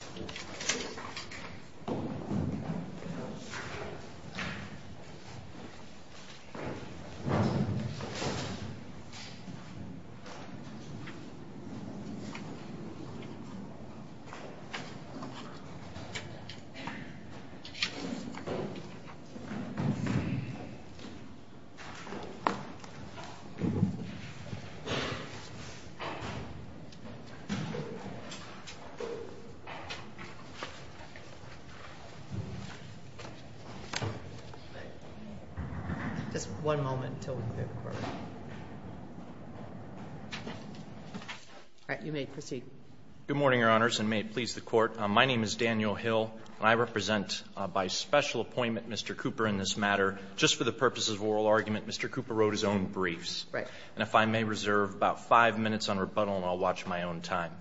Charles Cooper, Jr. Good morning, Your Honors, and may it please the Court. My name is Daniel Hill, and I represent, by special appointment, Mr. Cooper in this matter. Just for the purposes of oral argument, Mr. Cooper wrote his own briefs. And if I may reserve about five minutes on rebuttal, and I'll watch my own time.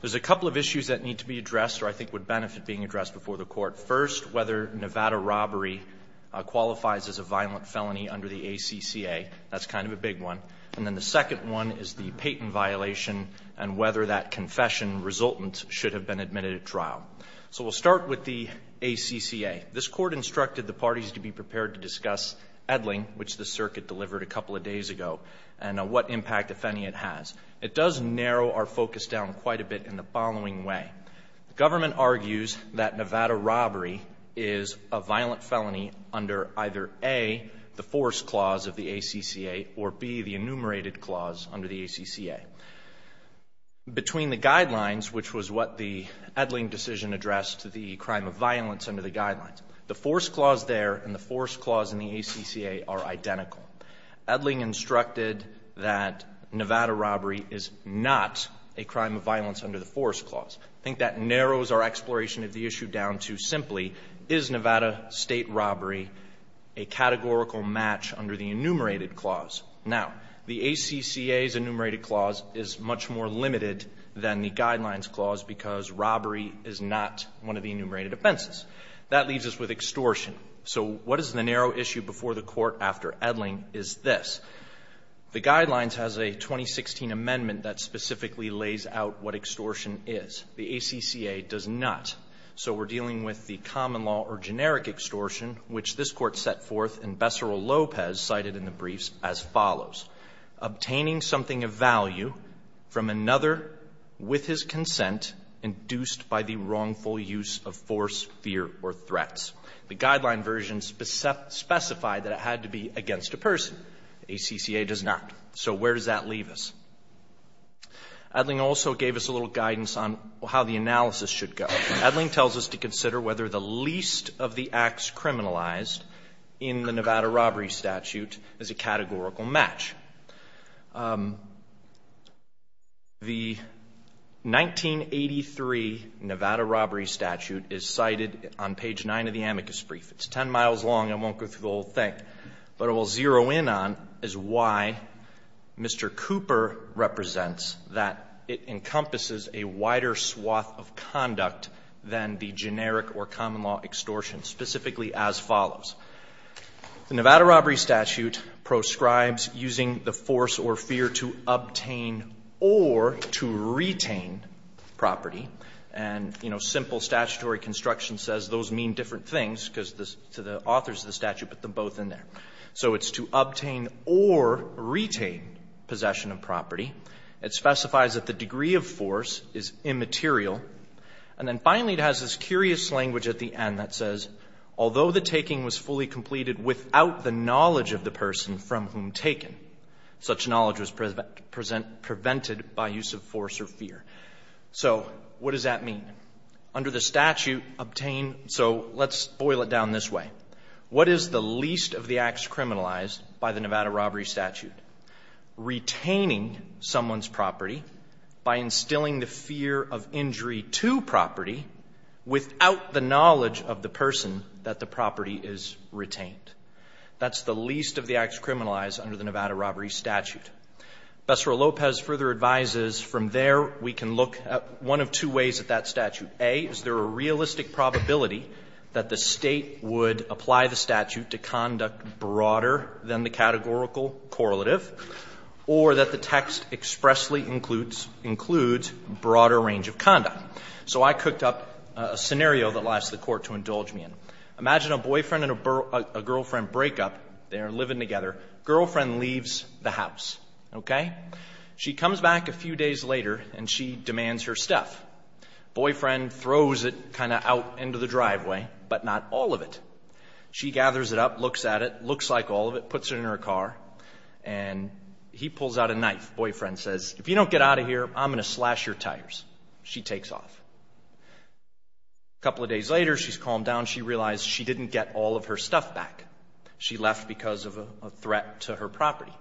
There's a couple of issues that need to be addressed, or I think would benefit being addressed before the Court. First, whether Nevada robbery qualifies as a violent felony under the ACCA. That's kind of a big one. And then the second one is the Payton violation and whether that confession resultant should have been admitted at trial. So we'll start with the ACCA. This Court instructed the parties to be prepared to discuss Edling, which the Circuit delivered a couple of days ago, and what impact, if any, it has. It does narrow our focus down quite a bit in the following way. The government argues that Nevada robbery is a violent felony under either A, the force clause of the ACCA, or B, the enumerated clause under the ACCA. Between the guidelines, which was what the Edling decision addressed, the crime of violence under the guidelines, the force clause there and the force clause in the ACCA are identical. Edling instructed that Nevada robbery is not a crime of violence under the force clause. I think that narrows our exploration of the issue down to simply, is Nevada state robbery a categorical match under the enumerated clause? Now, the ACCA's enumerated clause is much more limited than the guidelines clause because robbery is not one of the enumerated offenses. That leaves us with extortion. So what is the narrow issue before the Court after Edling is this. The guidelines has a 2016 amendment that specifically lays out what extortion is. The ACCA does not. So we're dealing with the common law or generic extortion, which this Court set forth and Bessarol-Lopez cited in the briefs as follows. Obtaining something of value from another with his consent induced by the wrongful use of force, fear, or threats. The guideline version specified that it had to be against a person. The ACCA does not. So where does that leave us? Edling also gave us a little guidance on how the analysis should go. Edling tells us to consider whether the least of the acts criminalized in the Nevada robbery statute is a categorical match. The 1983 Nevada robbery statute is cited on page 9 of the amicus brief. It's 10 miles long. I won't go through the whole thing. But it will zero in on is why Mr. Cooper represents that it encompasses a wider swath of conduct than the generic or common law extortion, specifically as follows. The Nevada robbery statute proscribes using the force or fear to obtain or to retain property. And, you know, simple statutory construction says those mean different things because the authors of the statute put them both in there. So it's to obtain or retain possession of property. It specifies that the degree of force is immaterial. And then finally it has this curious language at the end that says, although the taking was fully completed without the knowledge of the person from whom taken, such knowledge was prevented by use of force or fear. So what does that mean? Under the statute, obtain so let's boil it down this way. What is the least of the acts criminalized by the Nevada robbery statute? Retaining someone's property by instilling the fear of injury to property without the knowledge of the person that the property is retained. That's the least of the acts criminalized under the Nevada robbery statute. Bessara-Lopez further advises from there we can look at one of two ways of that statute. A, is there a realistic probability that the State would apply the statute to conduct broader than the categorical correlative, or that the text expressly includes broader range of conduct? So I cooked up a scenario that I asked the Court to indulge me in. Imagine a boyfriend and a girlfriend break up. They are living together. Girlfriend leaves the house. Okay? She comes back a few days later and she demands her stuff. Boyfriend throws it kind of out into the driveway, but not all of it. She gathers it up, looks at it, looks like all of it, puts it in her car, and he pulls out a knife. Boyfriend says, if you don't get out of here, I'm going to slash your tires. She takes off. A couple of days later, she's calmed down. She realized she didn't get all of her stuff back. She left because of a threat to her property.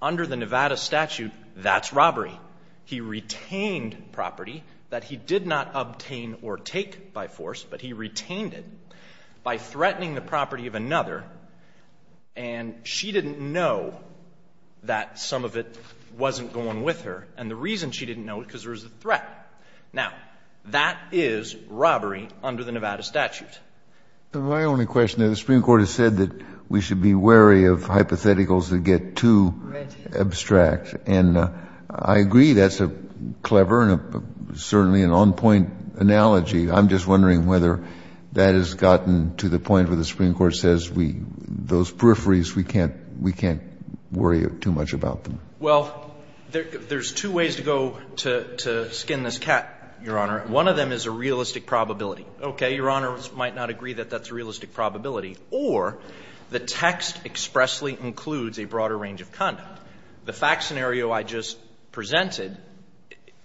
Under the Nevada statute, that's robbery. He retained property that he did not obtain or take by force, but he retained it by threatening the property of another. And she didn't know that some of it wasn't going with her. And the reason she didn't know it was because there was a threat. Now, that is robbery under the Nevada statute. Kennedy. My only question is the Supreme Court has said that we should be wary of hypotheticals that get too abstract. And I agree that's a clever and certainly an on-point analogy. I'm just wondering whether that has gotten to the point where the Supreme Court says we, those peripheries, we can't worry too much about them. Well, there's two ways to go to skin this cat, Your Honor. One of them is a realistic probability. Okay. Your Honors might not agree that that's a realistic probability. Or the text expressly includes a broader range of conduct. The fact scenario I just presented,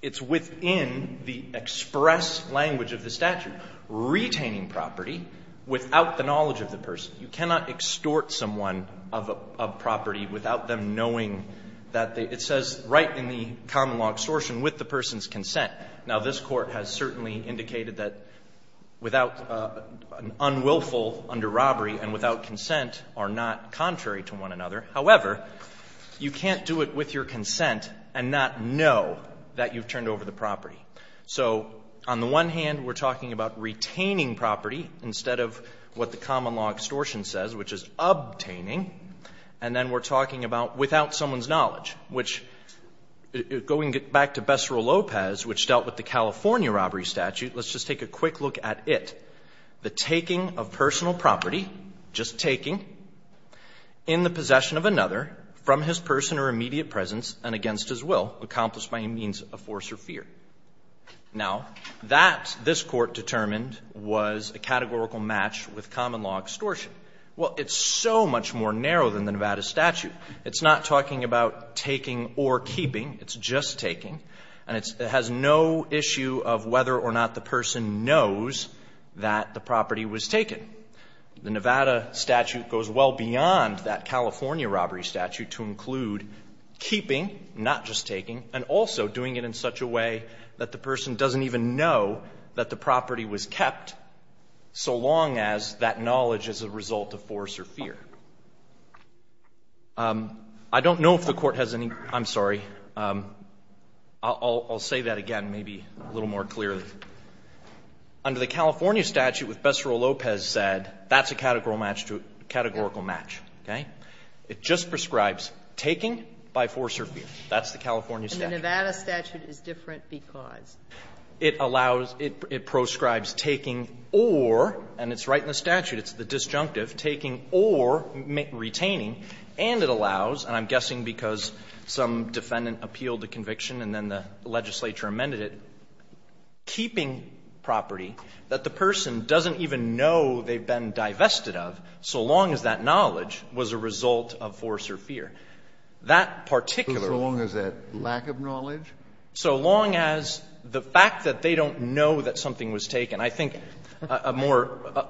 it's within the express language of the statute. Retaining property without the knowledge of the person. You cannot extort someone of property without them knowing that they – it says right in the common law extortion, with the person's consent. Now, this Court has certainly indicated that without an unwillful under robbery and without consent are not contrary to one another. However, you can't do it with your consent and not know that you've turned over the property. So on the one hand, we're talking about retaining property instead of what the common law extortion says, which is obtaining. And then we're talking about without someone's knowledge, which, going back to Becero Lopez, which dealt with the California robbery statute, let's just take a quick look at it. The taking of personal property, just taking, in the possession of another, from his person or immediate presence and against his will, accomplished by any means of force or fear. Now, that, this Court determined, was a categorical match with common law extortion. Well, it's so much more narrow than the Nevada statute. It's not talking about taking or keeping. It's just taking. And it has no issue of whether or not the person knows that the property was taken. The Nevada statute goes well beyond that California robbery statute to include keeping, not just taking, and also doing it in such a way that the person doesn't even know that the property was kept so long as that knowledge is a result of force or fear. I don't know if the Court has any ---- I'm sorry. I'll say that again, maybe a little more clearly. Under the California statute, what Becero Lopez said, that's a categorical match, okay? It just prescribes taking by force or fear. That's the California statute. And the Nevada statute is different because? It allows ---- it prescribes taking or, and it's right in the statute, it's the disjunctive, taking or retaining, and it allows, and I'm guessing because some defendant appealed the conviction and then the legislature amended it, keeping property that the person doesn't even know they've been divested of so long as that knowledge was a result of force or fear. That particular ---- So long as that lack of knowledge? So long as the fact that they don't know that something was taken. I think a more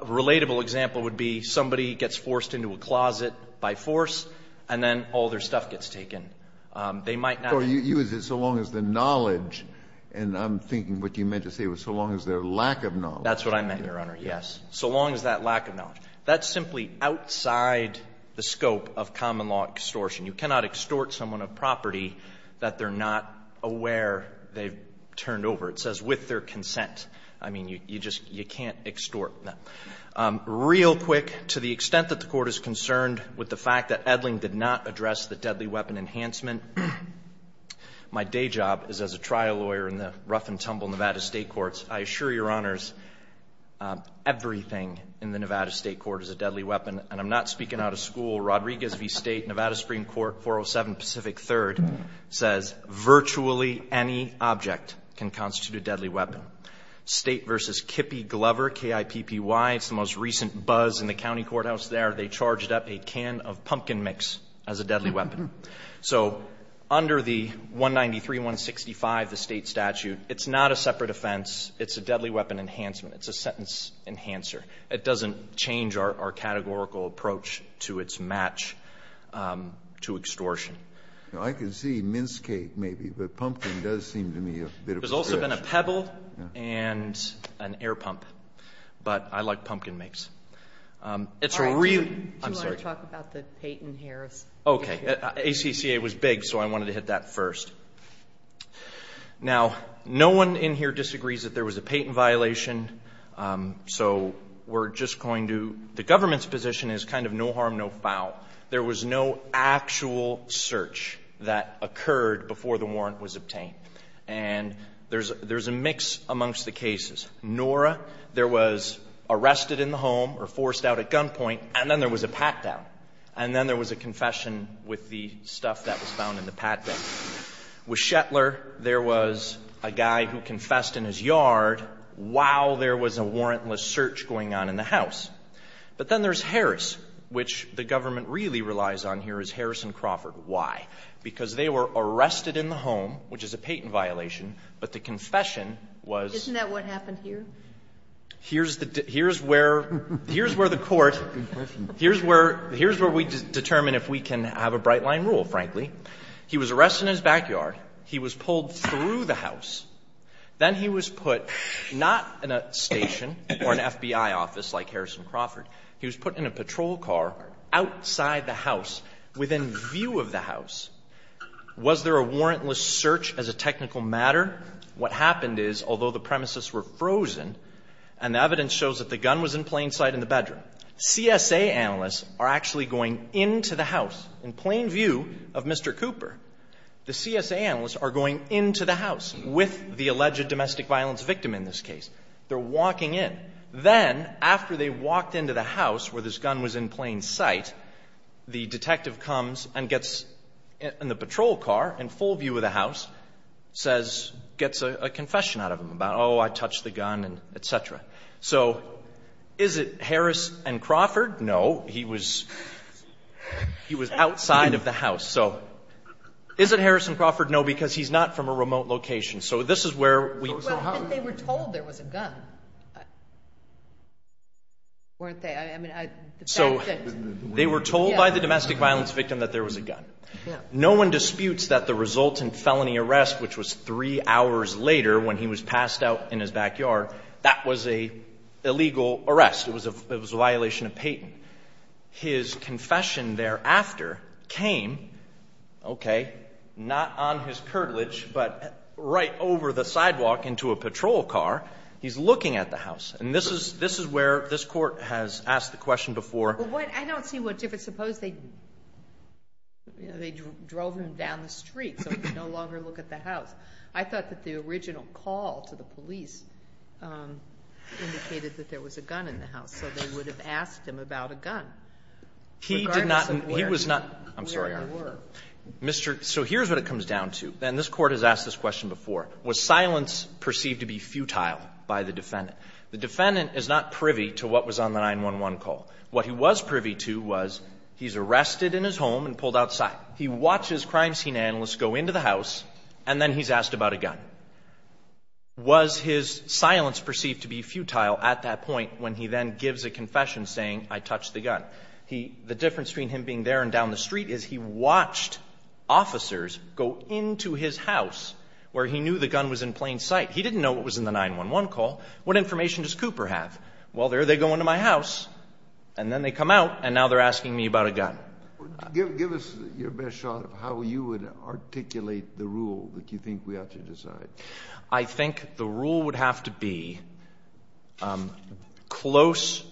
relatable example would be somebody gets forced into a closet by force and then all their stuff gets taken. They might not ---- So you use it, so long as the knowledge, and I'm thinking what you meant to say was so long as their lack of knowledge. That's what I meant, Your Honor, yes. So long as that lack of knowledge. That's simply outside the scope of common law extortion. You cannot extort someone of property that they're not aware they've turned over. It says with their consent. I mean, you just can't extort. Real quick, to the extent that the Court is concerned with the fact that Edling did not address the deadly weapon enhancement, my day job is as a trial lawyer in the rough-and-tumble Nevada State courts. I assure Your Honors, everything in the Nevada State court is a deadly weapon. And I'm not speaking out of school. Rodriguez v. State, Nevada Supreme Court, 407 Pacific III, says virtually any object can constitute a deadly weapon. State v. Kippy Glover, K-I-P-P-Y, it's the most recent buzz in the county courthouse there, they charged up a can of pumpkin mix as a deadly weapon. So under the 193.165, the State statute, it's not a separate offense. It's a deadly weapon enhancement. It's a sentence enhancer. It doesn't change our categorical approach to its match to extortion. Kennedy, I can see mince cake, maybe, but pumpkin does seem to me a bit of a stretch. It's also been a pebble and an air pump. But I like pumpkin mix. It's a real... I'm sorry. Do you want to talk about the Peyton-Harris? Okay. ACCA was big, so I wanted to hit that first. Now, no one in here disagrees that there was a Peyton violation. So we're just going to... The government's position is kind of no harm, no foul. There was no actual search that occurred before the warrant was obtained. And there's a mix amongst the cases. Nora, there was arrested in the home or forced out at gunpoint, and then there was a pat-down. And then there was a confession with the stuff that was found in the pat-down. With Shetler, there was a guy who confessed in his yard while there was a warrantless search going on in the house. But then there's Harris, which the government really relies on here is Harrison Crawford. Why? Because they were arrested in the home, which is a Peyton violation, but the confession was... Isn't that what happened here? Here's the... Here's where... Here's where the court... Here's where... Here's where we determine if we can have a bright-line rule, frankly. He was arrested in his backyard. He was pulled through the house. Then he was put not in a station or an FBI office like Harrison Crawford. He was put in a patrol car outside the house within view of the house. Was there a warrantless search as a technical matter? What happened is, although the premises were frozen and the evidence shows that the gun was in plain sight in the bedroom, CSA analysts are actually going into the house in plain view of Mr. Cooper. The CSA analysts are going into the house with the alleged domestic violence victim in this case. They're walking in. Then, after they walked into the house where this gun was in plain sight, the detective comes and gets in the patrol car in full view of the house, says... Gets a confession out of him about, oh, I touched the gun and et cetera. So, is it Harrison Crawford? No, he was outside of the house. So, is it Harrison Crawford? No, because he's not from a remote location. So, this is where we... They were told there was a gun, weren't they? So, they were told by the domestic violence victim that there was a gun. No one disputes that the resultant felony arrest, which was three hours later when he was passed out in his backyard, that was an illegal arrest. It was a violation of patent. His confession thereafter came, okay, not on his curtilage, but right over the sidewalk into a patrol car. He's looking at the house. And this is where this Court has asked the question before... But what... I don't see what... If it's supposed they drove him down the street so he could no longer look at the house. I thought that the original call to the police indicated that there was a gun in the house. So, they would have asked him about a gun. He did not... Regardless of where... He was not... I'm sorry, Your Honor. ...where they were. Mr. So, here's what it comes down to. And this Court has asked this question before. Was silence perceived to be futile by the defendant? The defendant is not privy to what was on the 911 call. What he was privy to was he's arrested in his home and pulled outside. He watches crime scene analysts go into the house, and then he's asked about a gun. Was his silence perceived to be futile at that point when he then gives a confession saying I touched the gun? The difference between him being there and down the street is he watched officers go into his house where he knew the gun was in plain sight. He didn't know what was in the 911 call. What information does Cooper have? Well, there they go into my house, and then they come out, and now they're asking me about a gun. Give us your best shot of how you would articulate the rule that you think we ought to decide. I think the rule would have to be close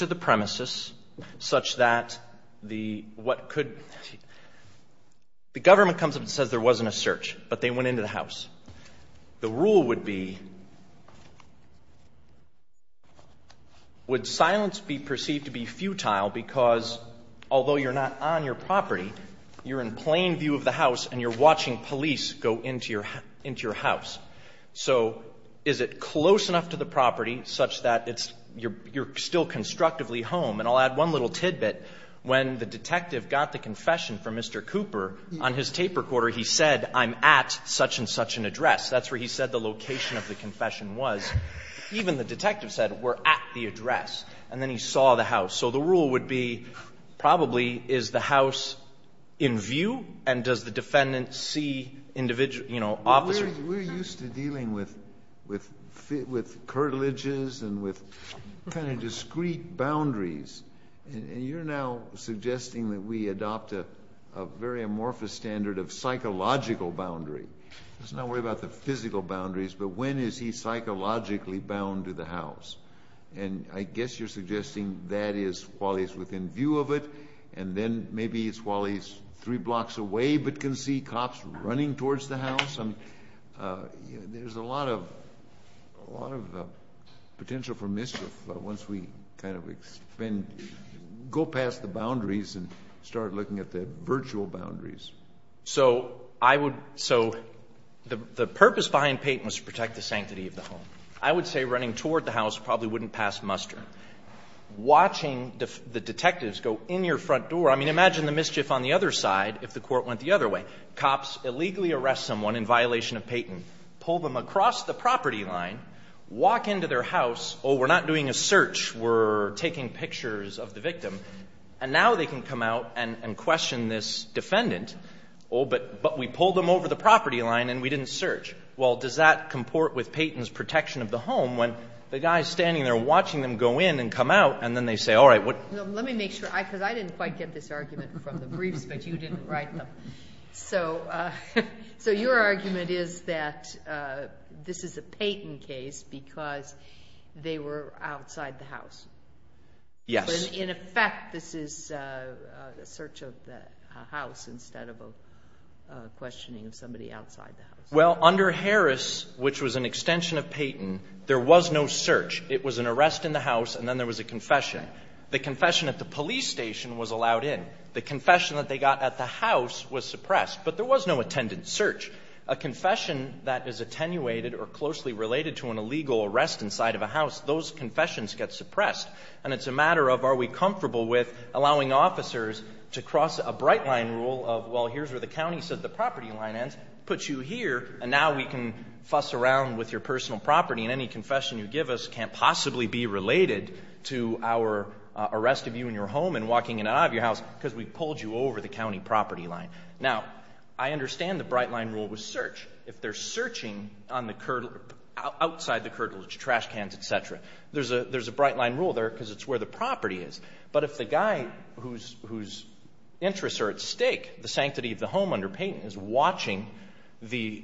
to the premises such that the what could the government comes up and says there wasn't a search, but they went into the house. The rule would be would silence be perceived to be futile because although you're not on your property, you're in plain view of the house, and you're watching police go into your house. So is it close enough to the property such that it's you're still constructively home? And I'll add one little tidbit. When the detective got the confession from Mr. Cooper, on his tape recorder, he said I'm at such and such an address. That's where he said the location of the confession was. Even the detective said we're at the address, and then he saw the house. So the rule would be probably is the house in view, and does the defendant see individual officers? We're used to dealing with curtilages and with kind of discreet boundaries, and you're now suggesting that we adopt a very amorphous standard of psychological boundary. Let's not worry about the physical boundaries, but when is he psychologically bound to the house? And I guess you're suggesting that is while he's within view of it, and then maybe it's while he's three blocks away but can see cops running towards the house. I mean, there's a lot of potential for mischief once we kind of go past the boundaries and start looking at the virtual boundaries. So the purpose behind Peyton was to protect the sanctity of the home. I would say running toward the house probably wouldn't pass muster. Watching the detectives go in your front door, I mean, imagine the mischief on the other side if the court went the other way. Cops illegally arrest someone in violation of Peyton, pull them across the property line, walk into their house, oh, we're not doing a search, we're taking pictures of the victim, and now they can come out and question this defendant, oh, but we pulled them over the property line and we didn't search. Well, does that comport with Peyton's protection of the home when the guy's standing there watching them go in and come out, and then they say, all right, what? Let me make sure, because I didn't quite get this argument from the briefs, but you didn't write them. So your argument is that this is a Peyton case because they were outside the house. Yes. In effect, this is a search of the house instead of a questioning of somebody outside the house. Well, under Harris, which was an extension of Peyton, there was no search. It was an arrest in the house and then there was a confession. The confession at the police station was allowed in. The confession that they got at the house was suppressed. But there was no attendant search. A confession that is attenuated or closely related to an illegal arrest inside of a house, those confessions get suppressed. And it's a matter of are we comfortable with allowing officers to cross a bright line rule of, well, here's where the county said the property line ends, put you here, and now we can fuss around with your personal property, and any confession you give us can't possibly be related to our arrest of you in your home and walking in and out of your house because we pulled you over the county property line. Now, I understand the bright line rule was search. If they're searching outside the curtilage, trash cans, et cetera, there's a bright line rule there because it's where the property is. But if the guy whose interests are at stake, the sanctity of the home under Payton, is watching the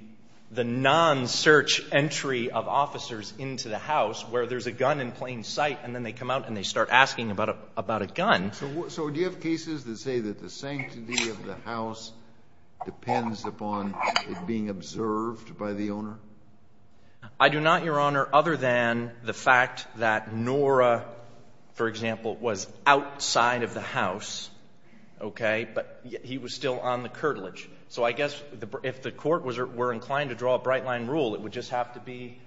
non-search entry of officers into the house where there's a gun in plain sight and then they come out and they start asking about a gun. So do you have cases that say that the sanctity of the house depends upon it being observed by the owner? I do not, Your Honor, other than the fact that Nora, for example, was in the house outside of the house, okay, but he was still on the curtilage. So I guess if the court were inclined to draw a bright line rule, it would just have to be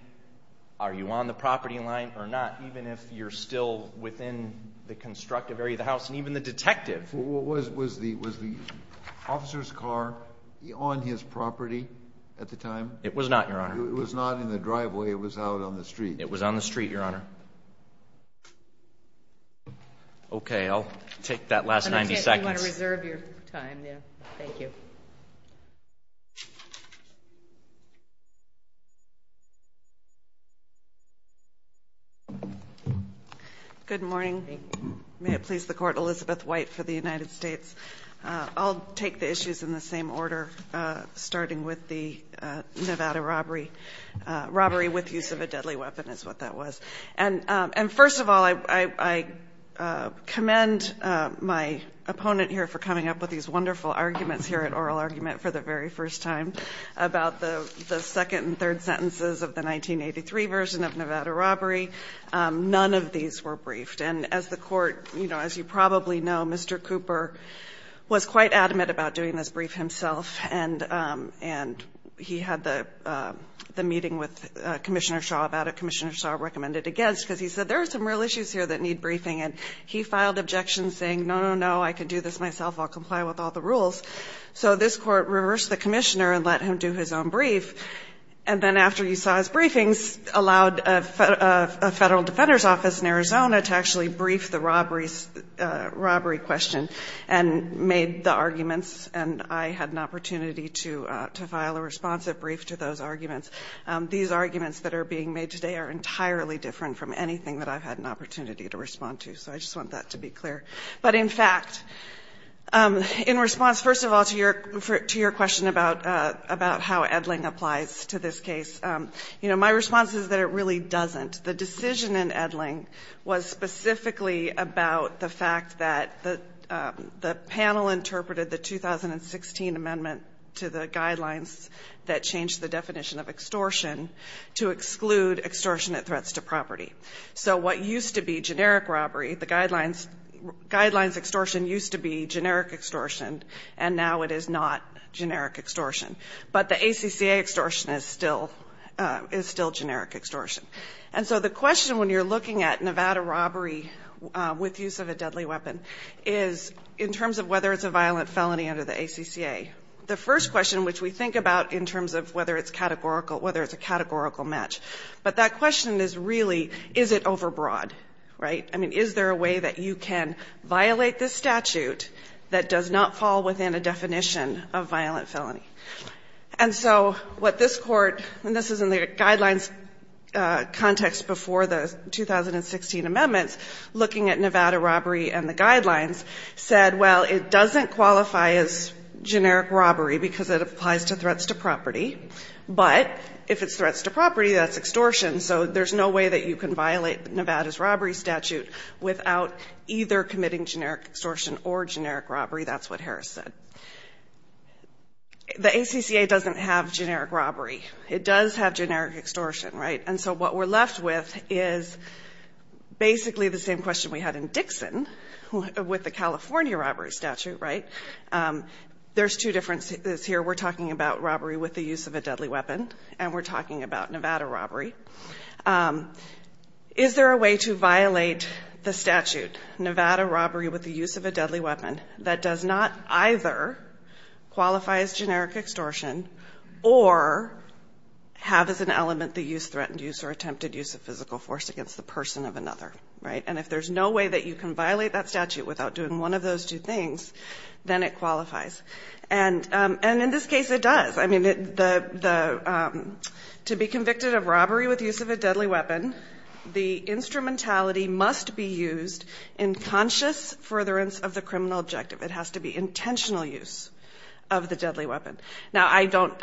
are you on the property line or not, even if you're still within the constructive area of the house. And even the detective. Was the officer's car on his property at the time? It was not, Your Honor. It was not in the driveway. It was out on the street. It was on the street, Your Honor. Okay, I'll take that last 90 seconds. I'm going to take it. You want to reserve your time there. Thank you. Good morning. May it please the Court. Elizabeth White for the United States. I'll take the issues in the same order, starting with the Nevada robbery, robbery with use of a deadly weapon is what that was. And first of all, I commend my opponent here for coming up with these wonderful arguments here at Oral Argument for the very first time about the second and third sentences of the 1983 version of Nevada robbery. None of these were briefed. And as the Court, you know, as you probably know, Mr. Cooper was quite adamant about doing his brief himself, and he had the meeting with Commissioner Shaw about it, Commissioner Shaw recommended against, because he said, there are some real issues here that need briefing. And he filed objections saying, no, no, no, I can do this myself. I'll comply with all the rules. So this Court reversed the commissioner and let him do his own brief. And then after he saw his briefings, allowed a Federal Defender's Office in Arizona to actually brief the robbery question and made the arguments, and I had an opportunity to file a responsive brief to those arguments, these arguments that are being made today are entirely different from anything that I've had an opportunity to respond to. So I just want that to be clear. But in fact, in response, first of all, to your question about how Edling applies to this case, you know, my response is that it really doesn't. The decision in Edling was specifically about the fact that the panel interpreted the 2016 amendment to the guidelines that changed the definition of extortion to exclude extortionate threats to property. So what used to be generic robbery, the guidelines extortion used to be generic extortion, and now it is not generic extortion. But the ACCA extortion is still generic extortion. And so the question when you're looking at Nevada robbery with use of a deadly weapon is, in terms of whether it's a violent felony under the ACCA, the first question which we think about in terms of whether it's categorical, whether it's a categorical match, but that question is really, is it overbroad, right? I mean, is there a way that you can violate this statute that does not fall within a definition of violent felony? And so what this court, and this is in the guidelines context before the 2016 amendments, looking at Nevada robbery and the guidelines, said, well, it doesn't qualify as generic robbery because it applies to threats to property. But if it's threats to property, that's extortion. So there's no way that you can violate Nevada's robbery statute without either committing generic extortion or generic robbery. That's what Harris said. The ACCA doesn't have generic robbery. It does have generic extortion, right? And so what we're left with is basically the same question we had in Dixon with the California robbery statute, right? There's two differences here. We're talking about robbery with the use of a deadly weapon, and we're talking about Nevada robbery. Is there a way to violate the statute, Nevada robbery with the use of a deadly weapon that does not either qualify as generic extortion or have as an element the use, threatened use, or attempted use of physical force against the person of another, right? And if there's no way that you can violate that statute without doing one of those two things, then it qualifies. And in this case, it does. I mean, to be convicted of robbery with the use of a deadly weapon, the criminal objective, it has to be intentional use of the deadly weapon. Now, I don't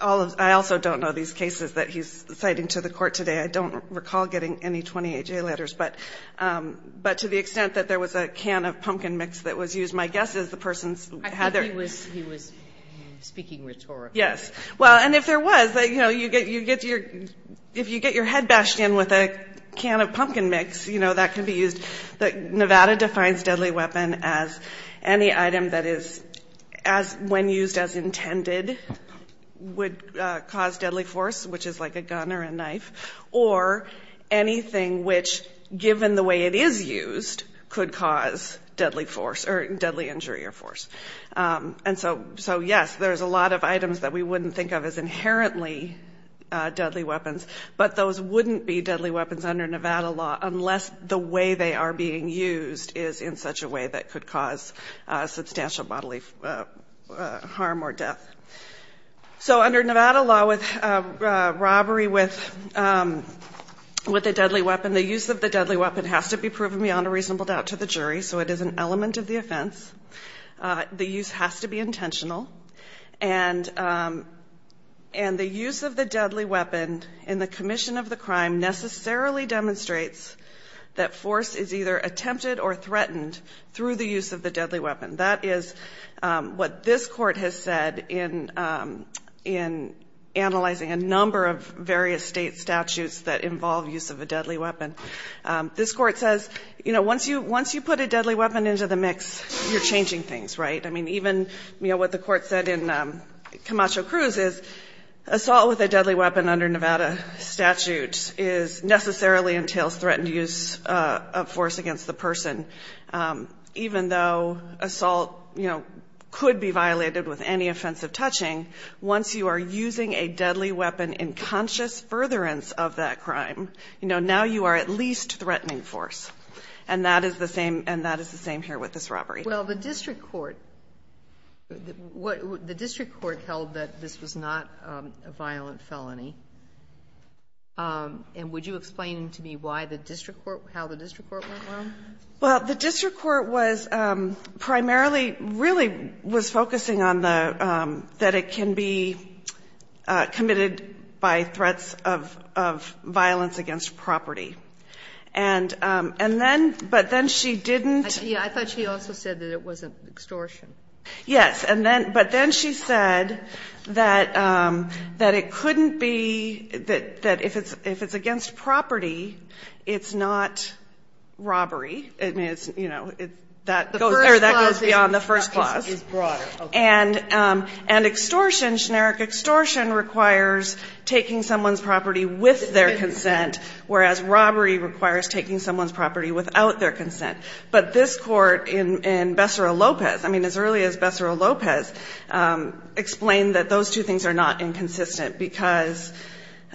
all of the – I also don't know these cases that he's citing to the court today. I don't recall getting any 28-J letters. But to the extent that there was a can of pumpkin mix that was used, my guess is the person had their – I think he was speaking rhetorically. Yes. Well, and if there was, you know, you get your – if you get your head bashed in with a can of pumpkin mix, you know, that can be used. Nevada defines deadly weapon as any item that is, when used as intended, would cause deadly force, which is like a gun or a knife, or anything which, given the way it is used, could cause deadly force or deadly injury or force. And so, yes, there's a lot of items that we wouldn't think of as inherently deadly weapons, but those wouldn't be deadly weapons under Nevada law unless the way they are being used is in such a way that could cause substantial bodily harm or death. So, under Nevada law, with robbery with a deadly weapon, the use of the deadly weapon has to be proven beyond a reasonable doubt to the jury, so it is an element of the offense. The use has to be intentional. And the use of the deadly weapon in the commission of the crime necessarily demonstrates that force is either attempted or threatened through the use of the deadly weapon. That is what this Court has said in analyzing a number of various state statutes that involve use of a deadly weapon. This Court says, you know, once you put a deadly weapon into the mix, you're changing things, right? I mean, even, you know, what the Court said in Camacho Cruz is assault with a deadly weapon under Nevada statute necessarily entails threatened use of force against the person, even though assault, you know, could be violated with any offensive touching. Once you are using a deadly weapon in conscious furtherance of that crime, you know, now you are at least threatening force. Well, the district court, the district court held that this was not a violent felony. And would you explain to me why the district court, how the district court went along? Well, the district court was primarily, really was focusing on the, that it can be committed by threats of violence against property. And then, but then she didn't. I thought she also said that it wasn't extortion. Yes. And then, but then she said that it couldn't be, that if it's against property, it's not robbery. I mean, it's, you know, that goes beyond the first clause. The first clause is broader. And extortion, generic extortion requires taking someone's property with their consent, whereas robbery requires taking someone's property without their consent. But this court in Bessara-Lopez, I mean, as early as Bessara-Lopez, explained that those two things are not inconsistent because,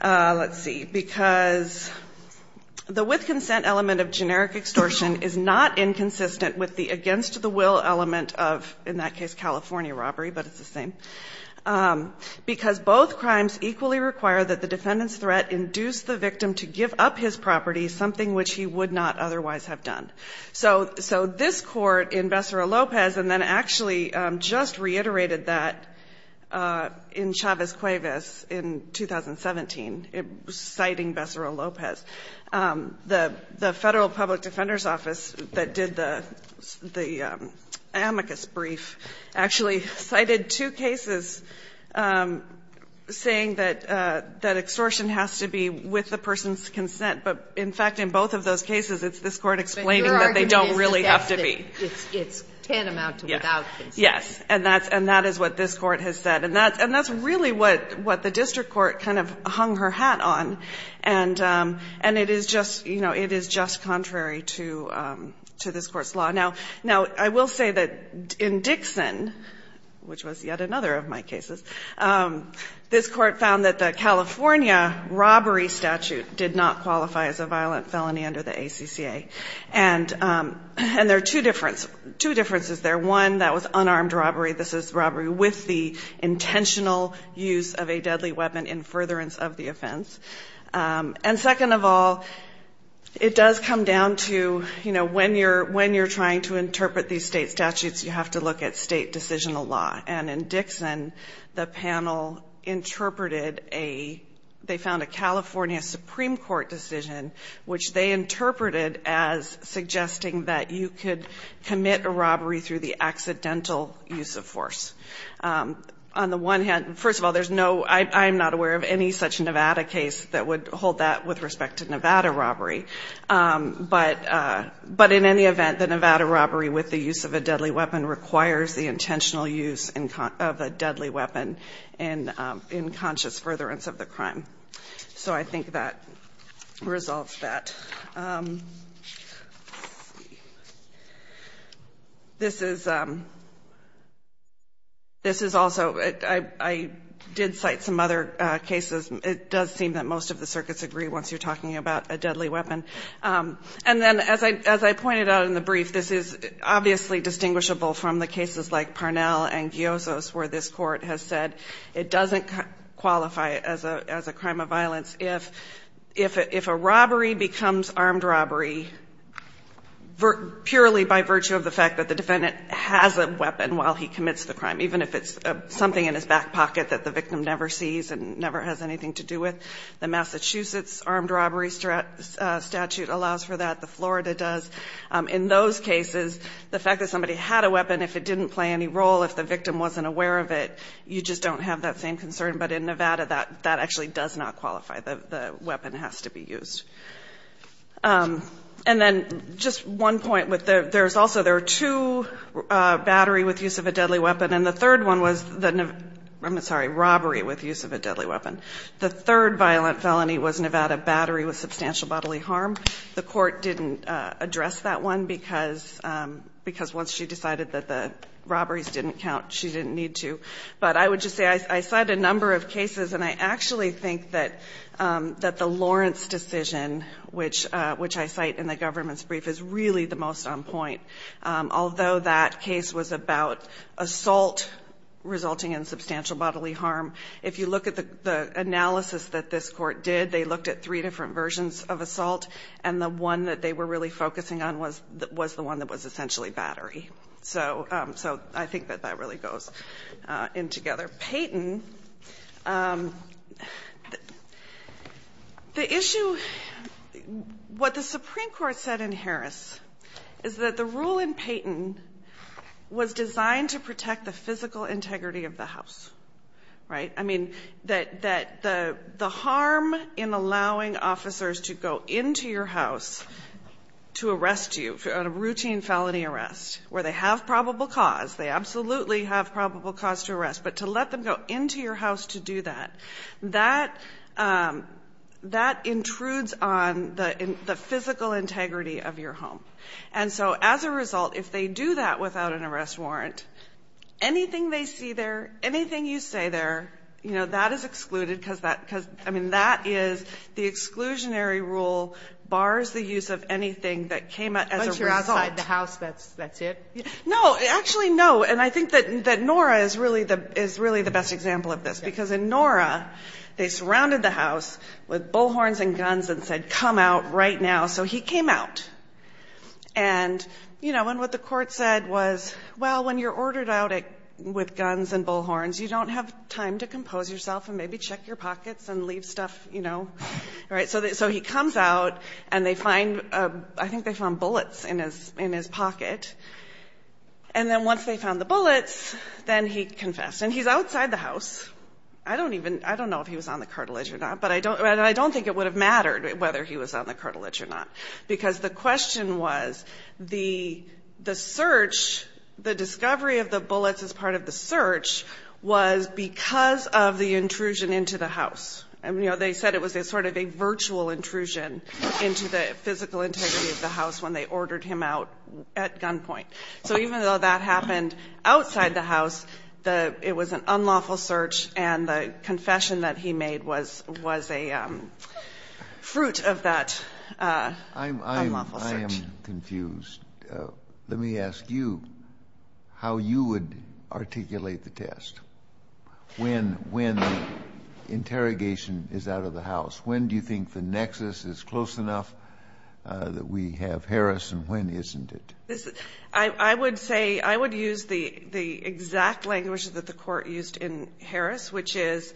let's see, because the with consent element of generic extortion is not inconsistent with the against the will element of, in that case, California robbery, but it's the same. Because both crimes equally require that the defendant's threat induce the victim to give up his property, something which he would not otherwise have done. So this court in Bessara-Lopez, and then actually just reiterated that in Chavez-Cuevas in 2017, citing Bessara-Lopez, the Federal Public Defender's Office that did the amicus brief actually cited two cases saying that extortion has to be with the person's consent. But in fact, in both of those cases, it's this Court explaining that they don't really have to be. It's tantamount to without consent. Yes. And that is what this Court has said. And that's really what the district court kind of hung her hat on. And it is just, you know, it is just contrary to this Court's law. Now, I will say that in Dixon, which was yet another of my cases, this Court found that the California robbery statute did not qualify as a violent felony under the ACCA. And there are two differences there. One, that was unarmed robbery. This is robbery with the intentional use of a deadly weapon in furtherance of the offense. And second of all, it does come down to, you know, when you're trying to interpret these state statutes, you have to look at state decisional law. And in Dixon, the panel interpreted a, they found a California Supreme Court decision, which they interpreted as suggesting that you could commit a robbery through the accidental use of force. On the one hand, first of all, there's no, I'm not aware of any such Nevada case that would hold that with respect to Nevada robbery. But in any event, the Nevada robbery with the use of a deadly weapon requires the use of a deadly weapon in conscious furtherance of the crime. So I think that resolves that. Let's see. This is also, I did cite some other cases. It does seem that most of the circuits agree once you're talking about a deadly weapon. And then, as I pointed out in the brief, this is obviously distinguishable from the cases like Parnell and Giosos, where this Court has said it doesn't qualify as a crime of violence. If a robbery becomes armed robbery, purely by virtue of the fact that the defendant has a weapon while he commits the crime, even if it's something in his back pocket that the victim never sees and never has anything to do with. The Massachusetts armed robbery statute allows for that. The Florida does. In those cases, the fact that somebody had a weapon, if it didn't play any role, if the victim wasn't aware of it, you just don't have that same concern. But in Nevada, that actually does not qualify. The weapon has to be used. And then, just one point. There's also, there are two battery with use of a deadly weapon. And the third one was the, I'm sorry, robbery with use of a deadly weapon. The third violent felony was Nevada battery with substantial bodily harm. The Court didn't address that one, because once she decided that the robberies didn't count, she didn't need to. But I would just say, I cite a number of cases, and I actually think that the Lawrence decision, which I cite in the government's brief, is really the most on point. Although that case was about assault resulting in substantial bodily harm, if you look at the analysis that this Court did, they looked at and the one that they were really focusing on was the one that was essentially battery. So, I think that that really goes in together. Payton, the issue, what the Supreme Court said in Harris, is that the rule in Payton was designed to protect the physical integrity of the house. Right? I mean, that the harm in allowing officers to go into your house to arrest you on a routine felony arrest, where they have probable cause, they absolutely have probable cause to arrest, but to let them go into your house to do that, that intrudes on the physical integrity of your home. And so, as a result, if they do that without an arrest warrant, anything they see there, anything you say there, that is excluded, because that is the exclusionary rule bars the use of anything that came as a result. No, actually no. And I think that Nora is really the best example of this. Because in Nora, they surrounded the house with bullhorns and guns and said, come out right now. So he came out. And what the Court said was, well, when you're ordered out with guns and bullhorns, you don't have time to compose yourself and maybe check your pockets and leave stuff, you know? Right? So he comes out and they find, I think they found bullets in his pocket. And then once they found the bullets, then he confessed. And he's outside the house. I don't know if he was on the cartilage or not, but I don't think it would have mattered whether he was on the cartilage or not. Because the question was, the search, the discovery of the bullets as part of the search was because of the intrusion into the house. You know, they said it was sort of a virtual intrusion into the physical integrity of the house when they ordered him out at gunpoint. So even though that happened outside the house, it was an unlawful search, and the confession that he made was a fruit of that unlawful search. I am confused. Let me ask you how you would articulate the test when interrogation is out of the house. When do you think the nexus is close enough that we have Harris, and when isn't it? I would say, I would use the exact language that the Court used in Harris, which is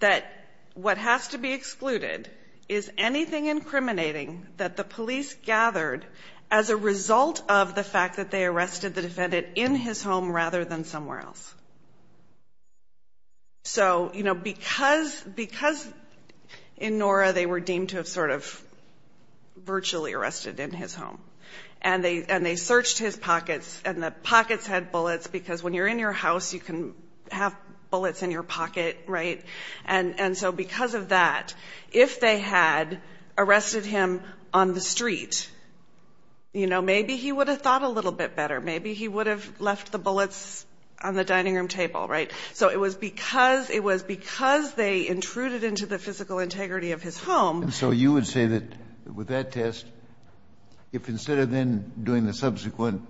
that what has to be excluded is anything incriminating that the police gathered as a result of the fact that they arrested the defendant in his home rather than somewhere else. So, you know, because in Nora they were deemed to have sort of virtually arrested in his home, and they searched his pockets and the pockets had bullets because when you're in your house, you can have bullets in your pocket, right? And so because of that, if they had arrested him on the street, you know, maybe he would have thought a little bit better. Maybe he would have left the bullets on the dining room table, right? So it was because they intruded into the physical integrity of his home. And so you would say that with that test, if instead of then doing the subsequent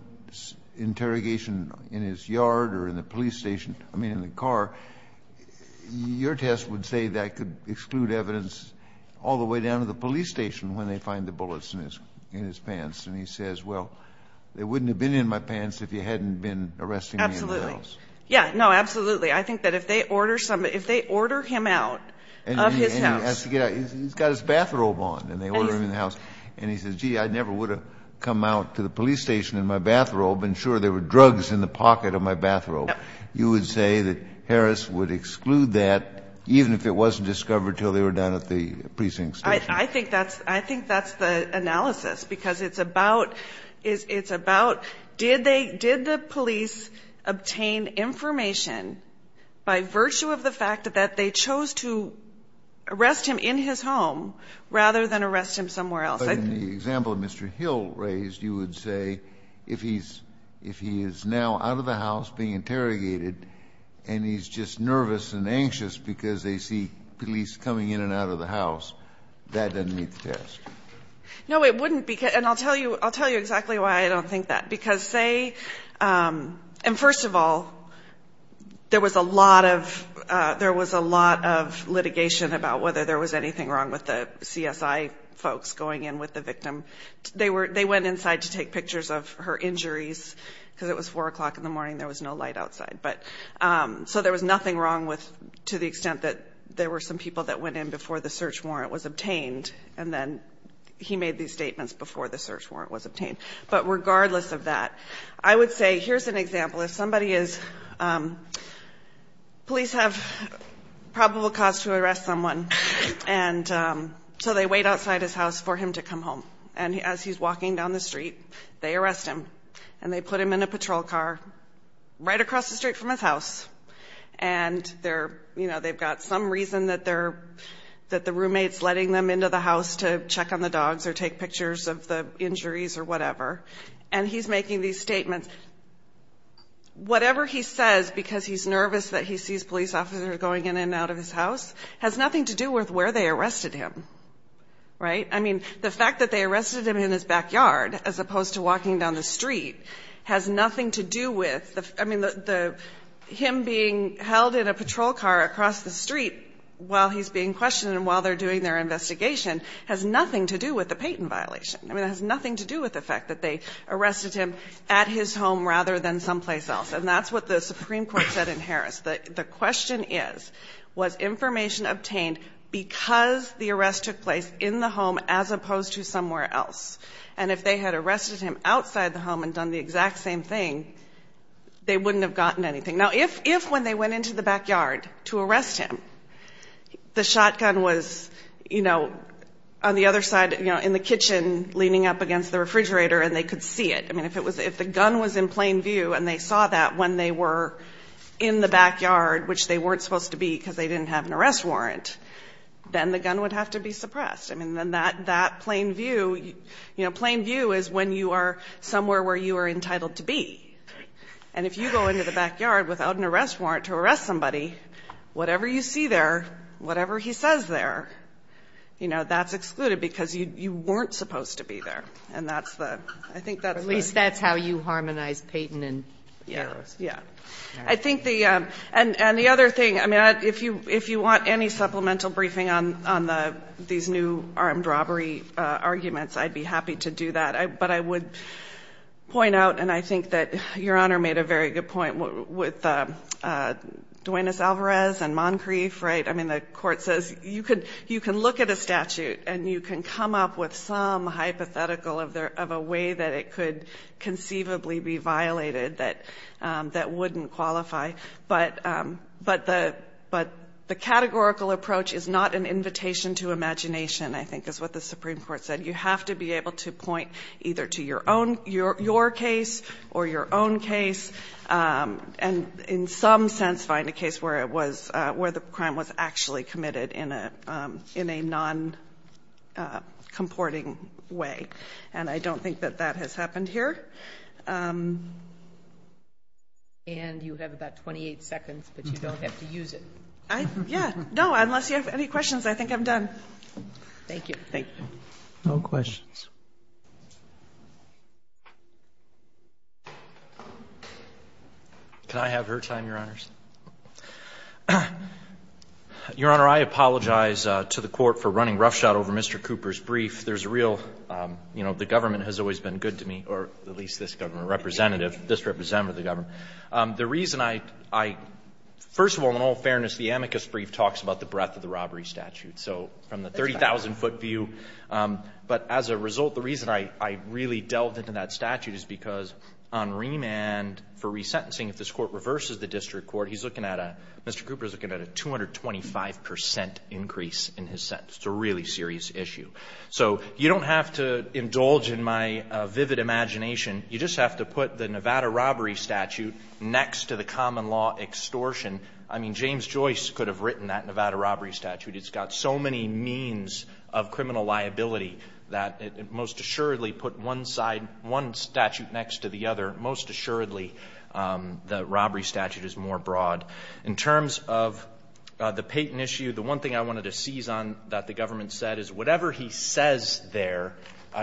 interrogation in his yard or in the police station, I mean in the car, your test would say that could exclude evidence all the way down to the police station when they find the bullets in his pants. And he says, well, they wouldn't have been in my pants if you hadn't been arresting me in my house. Absolutely. Yeah. No, absolutely. I think that if they order him out of his house And he has to get out. He's got his bathrobe on, and they order him in the house. And he says, gee, I never would have come out to the police station in my bathrobe and sure there were drugs in the pocket of my bathrobe. You would say that Harris would exclude that even if it wasn't discovered until they were down at the precinct station. I think that's the analysis, because it's about did the police obtain information by virtue of the fact that they chose to arrest him in his home rather than arrest him somewhere else. But in the example Mr. Hill raised, you would say if he is now out of the house being interrogated and he's just nervous and anxious because they see police coming in and out of the house, that doesn't meet the test. No, it wouldn't. And I'll tell you exactly why I don't think that, because say, and first of all, there was a lot of litigation about whether there was anything wrong with the CSI folks going in with the victim. They went inside to take pictures of her injuries, because it was 4 o'clock in the morning. There was no light outside. So there was nothing wrong with, to the extent that there were some people that went in before the search warrant was obtained, and then he made these statements before the search warrant was obtained. But regardless of that, I would say, here's an example. If somebody is, police have probable cause to arrest someone, and so they wait outside his house for him to come home. And as he's walking down the street, they arrest him, and they put him in a patrol car right across the street from his house. And they've got some reason that the roommate's letting them into the house to check on the dogs or take pictures of the injuries or whatever. And he's making these statements. Whatever he says, because he's nervous that he sees police officers going in and out of his house, has nothing to do with where they arrested him. Right? I mean, the fact that they arrested him in his backyard, as opposed to walking down the street, has nothing to do with, I mean, him being held in a patrol car across the street while he's being questioned and while they're doing their investigation has nothing to do with the Payton violation. I mean, it has nothing to do with the fact that they arrested him at his home rather than someplace else. And that's what the Supreme Court said in Harris. The question is, was information obtained because the arrest took place in the home as opposed to somewhere else? And if they had arrested him outside the home and done the exact same thing, they wouldn't have gotten anything. Now, if when they went into the backyard to arrest him, the shotgun was, you know, on the other side in the kitchen leaning up against the refrigerator and they could see it. I mean, if the gun was in plain view and they saw that when they were in the backyard, which they weren't supposed to be because they didn't have an arrest warrant, then the gun would have to be suppressed. I mean, then that plain view you know, plain view is when you are somewhere where you are entitled to be. And if you go into the backyard without an arrest warrant to arrest somebody, whatever you see there, whatever he says there, you know, that's excluded because you weren't supposed to be there. And that's the – I think that's why. At least that's how you harmonize Payton and Harris. Yeah. I think the – and the other thing, I mean, if you want any supplemental briefing on these new armed robbery arguments, I'd be happy to do that. But I would point out, and I think that Your Honor made a very good point with Duenas-Alvarez and Moncrief, right? I mean, the Court says you can look at a statute and you can come up with some hypothetical of a way that it could conceivably be violated that wouldn't qualify. But the categorical approach is not an invitation to imagination, I think, is what the Supreme Court said. You have to be able to point either to your own – your case or your own case, and in some sense find a case where it was – where the crime was actually committed in a non-comporting way. And I don't think that that has happened here. And you have about 28 seconds, but you don't have to use it. Yeah. No. Unless you have any questions, I think I'm done. Thank you. Thank you. No questions. Can I have her time, Your Honors? Your Honor, I apologize to the Court for running roughshod over Mr. Cooper's brief. There's a real – you know, the government has always been good to me, or at least this government representative, this representative of the government. The reason I – first of all, in all fairness, the amicus brief talks about the breadth of the robbery statute. So from the 30,000-foot view – but as a result, the reason I really delved into that statute is because on remand for resentencing, if this Court reverses the district court, he's looking at a – Mr. Cooper is looking at a 225 percent increase in his sentence. It's a really serious issue. So you don't have to indulge in my vivid imagination. You just have to put the Nevada robbery statute next to the common law extortion. I mean, James Joyce could have written that Nevada robbery statute. It's got so many means of criminal liability that it most assuredly put one side – one statute next to the other. Most assuredly, the robbery statute is more broad. In terms of the Payton issue, the one thing I wanted to seize on that the government said is whatever he says there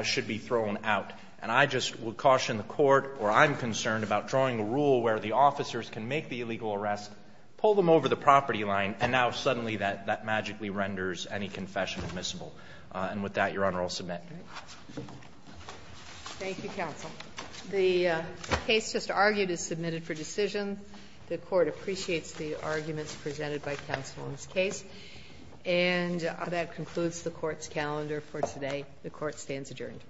should be thrown out. And I just would caution the Court, or I'm concerned, about drawing a rule where the officers can make the illegal arrest, pull them over the property line, and now suddenly that magically renders any confession admissible. And with that, Your Honor, I'll submit. Thank you, counsel. The case just argued is submitted for decision. The Court appreciates the arguments presented by counsel in this case. And that concludes the Court's calendar for today. The Court stands adjourned.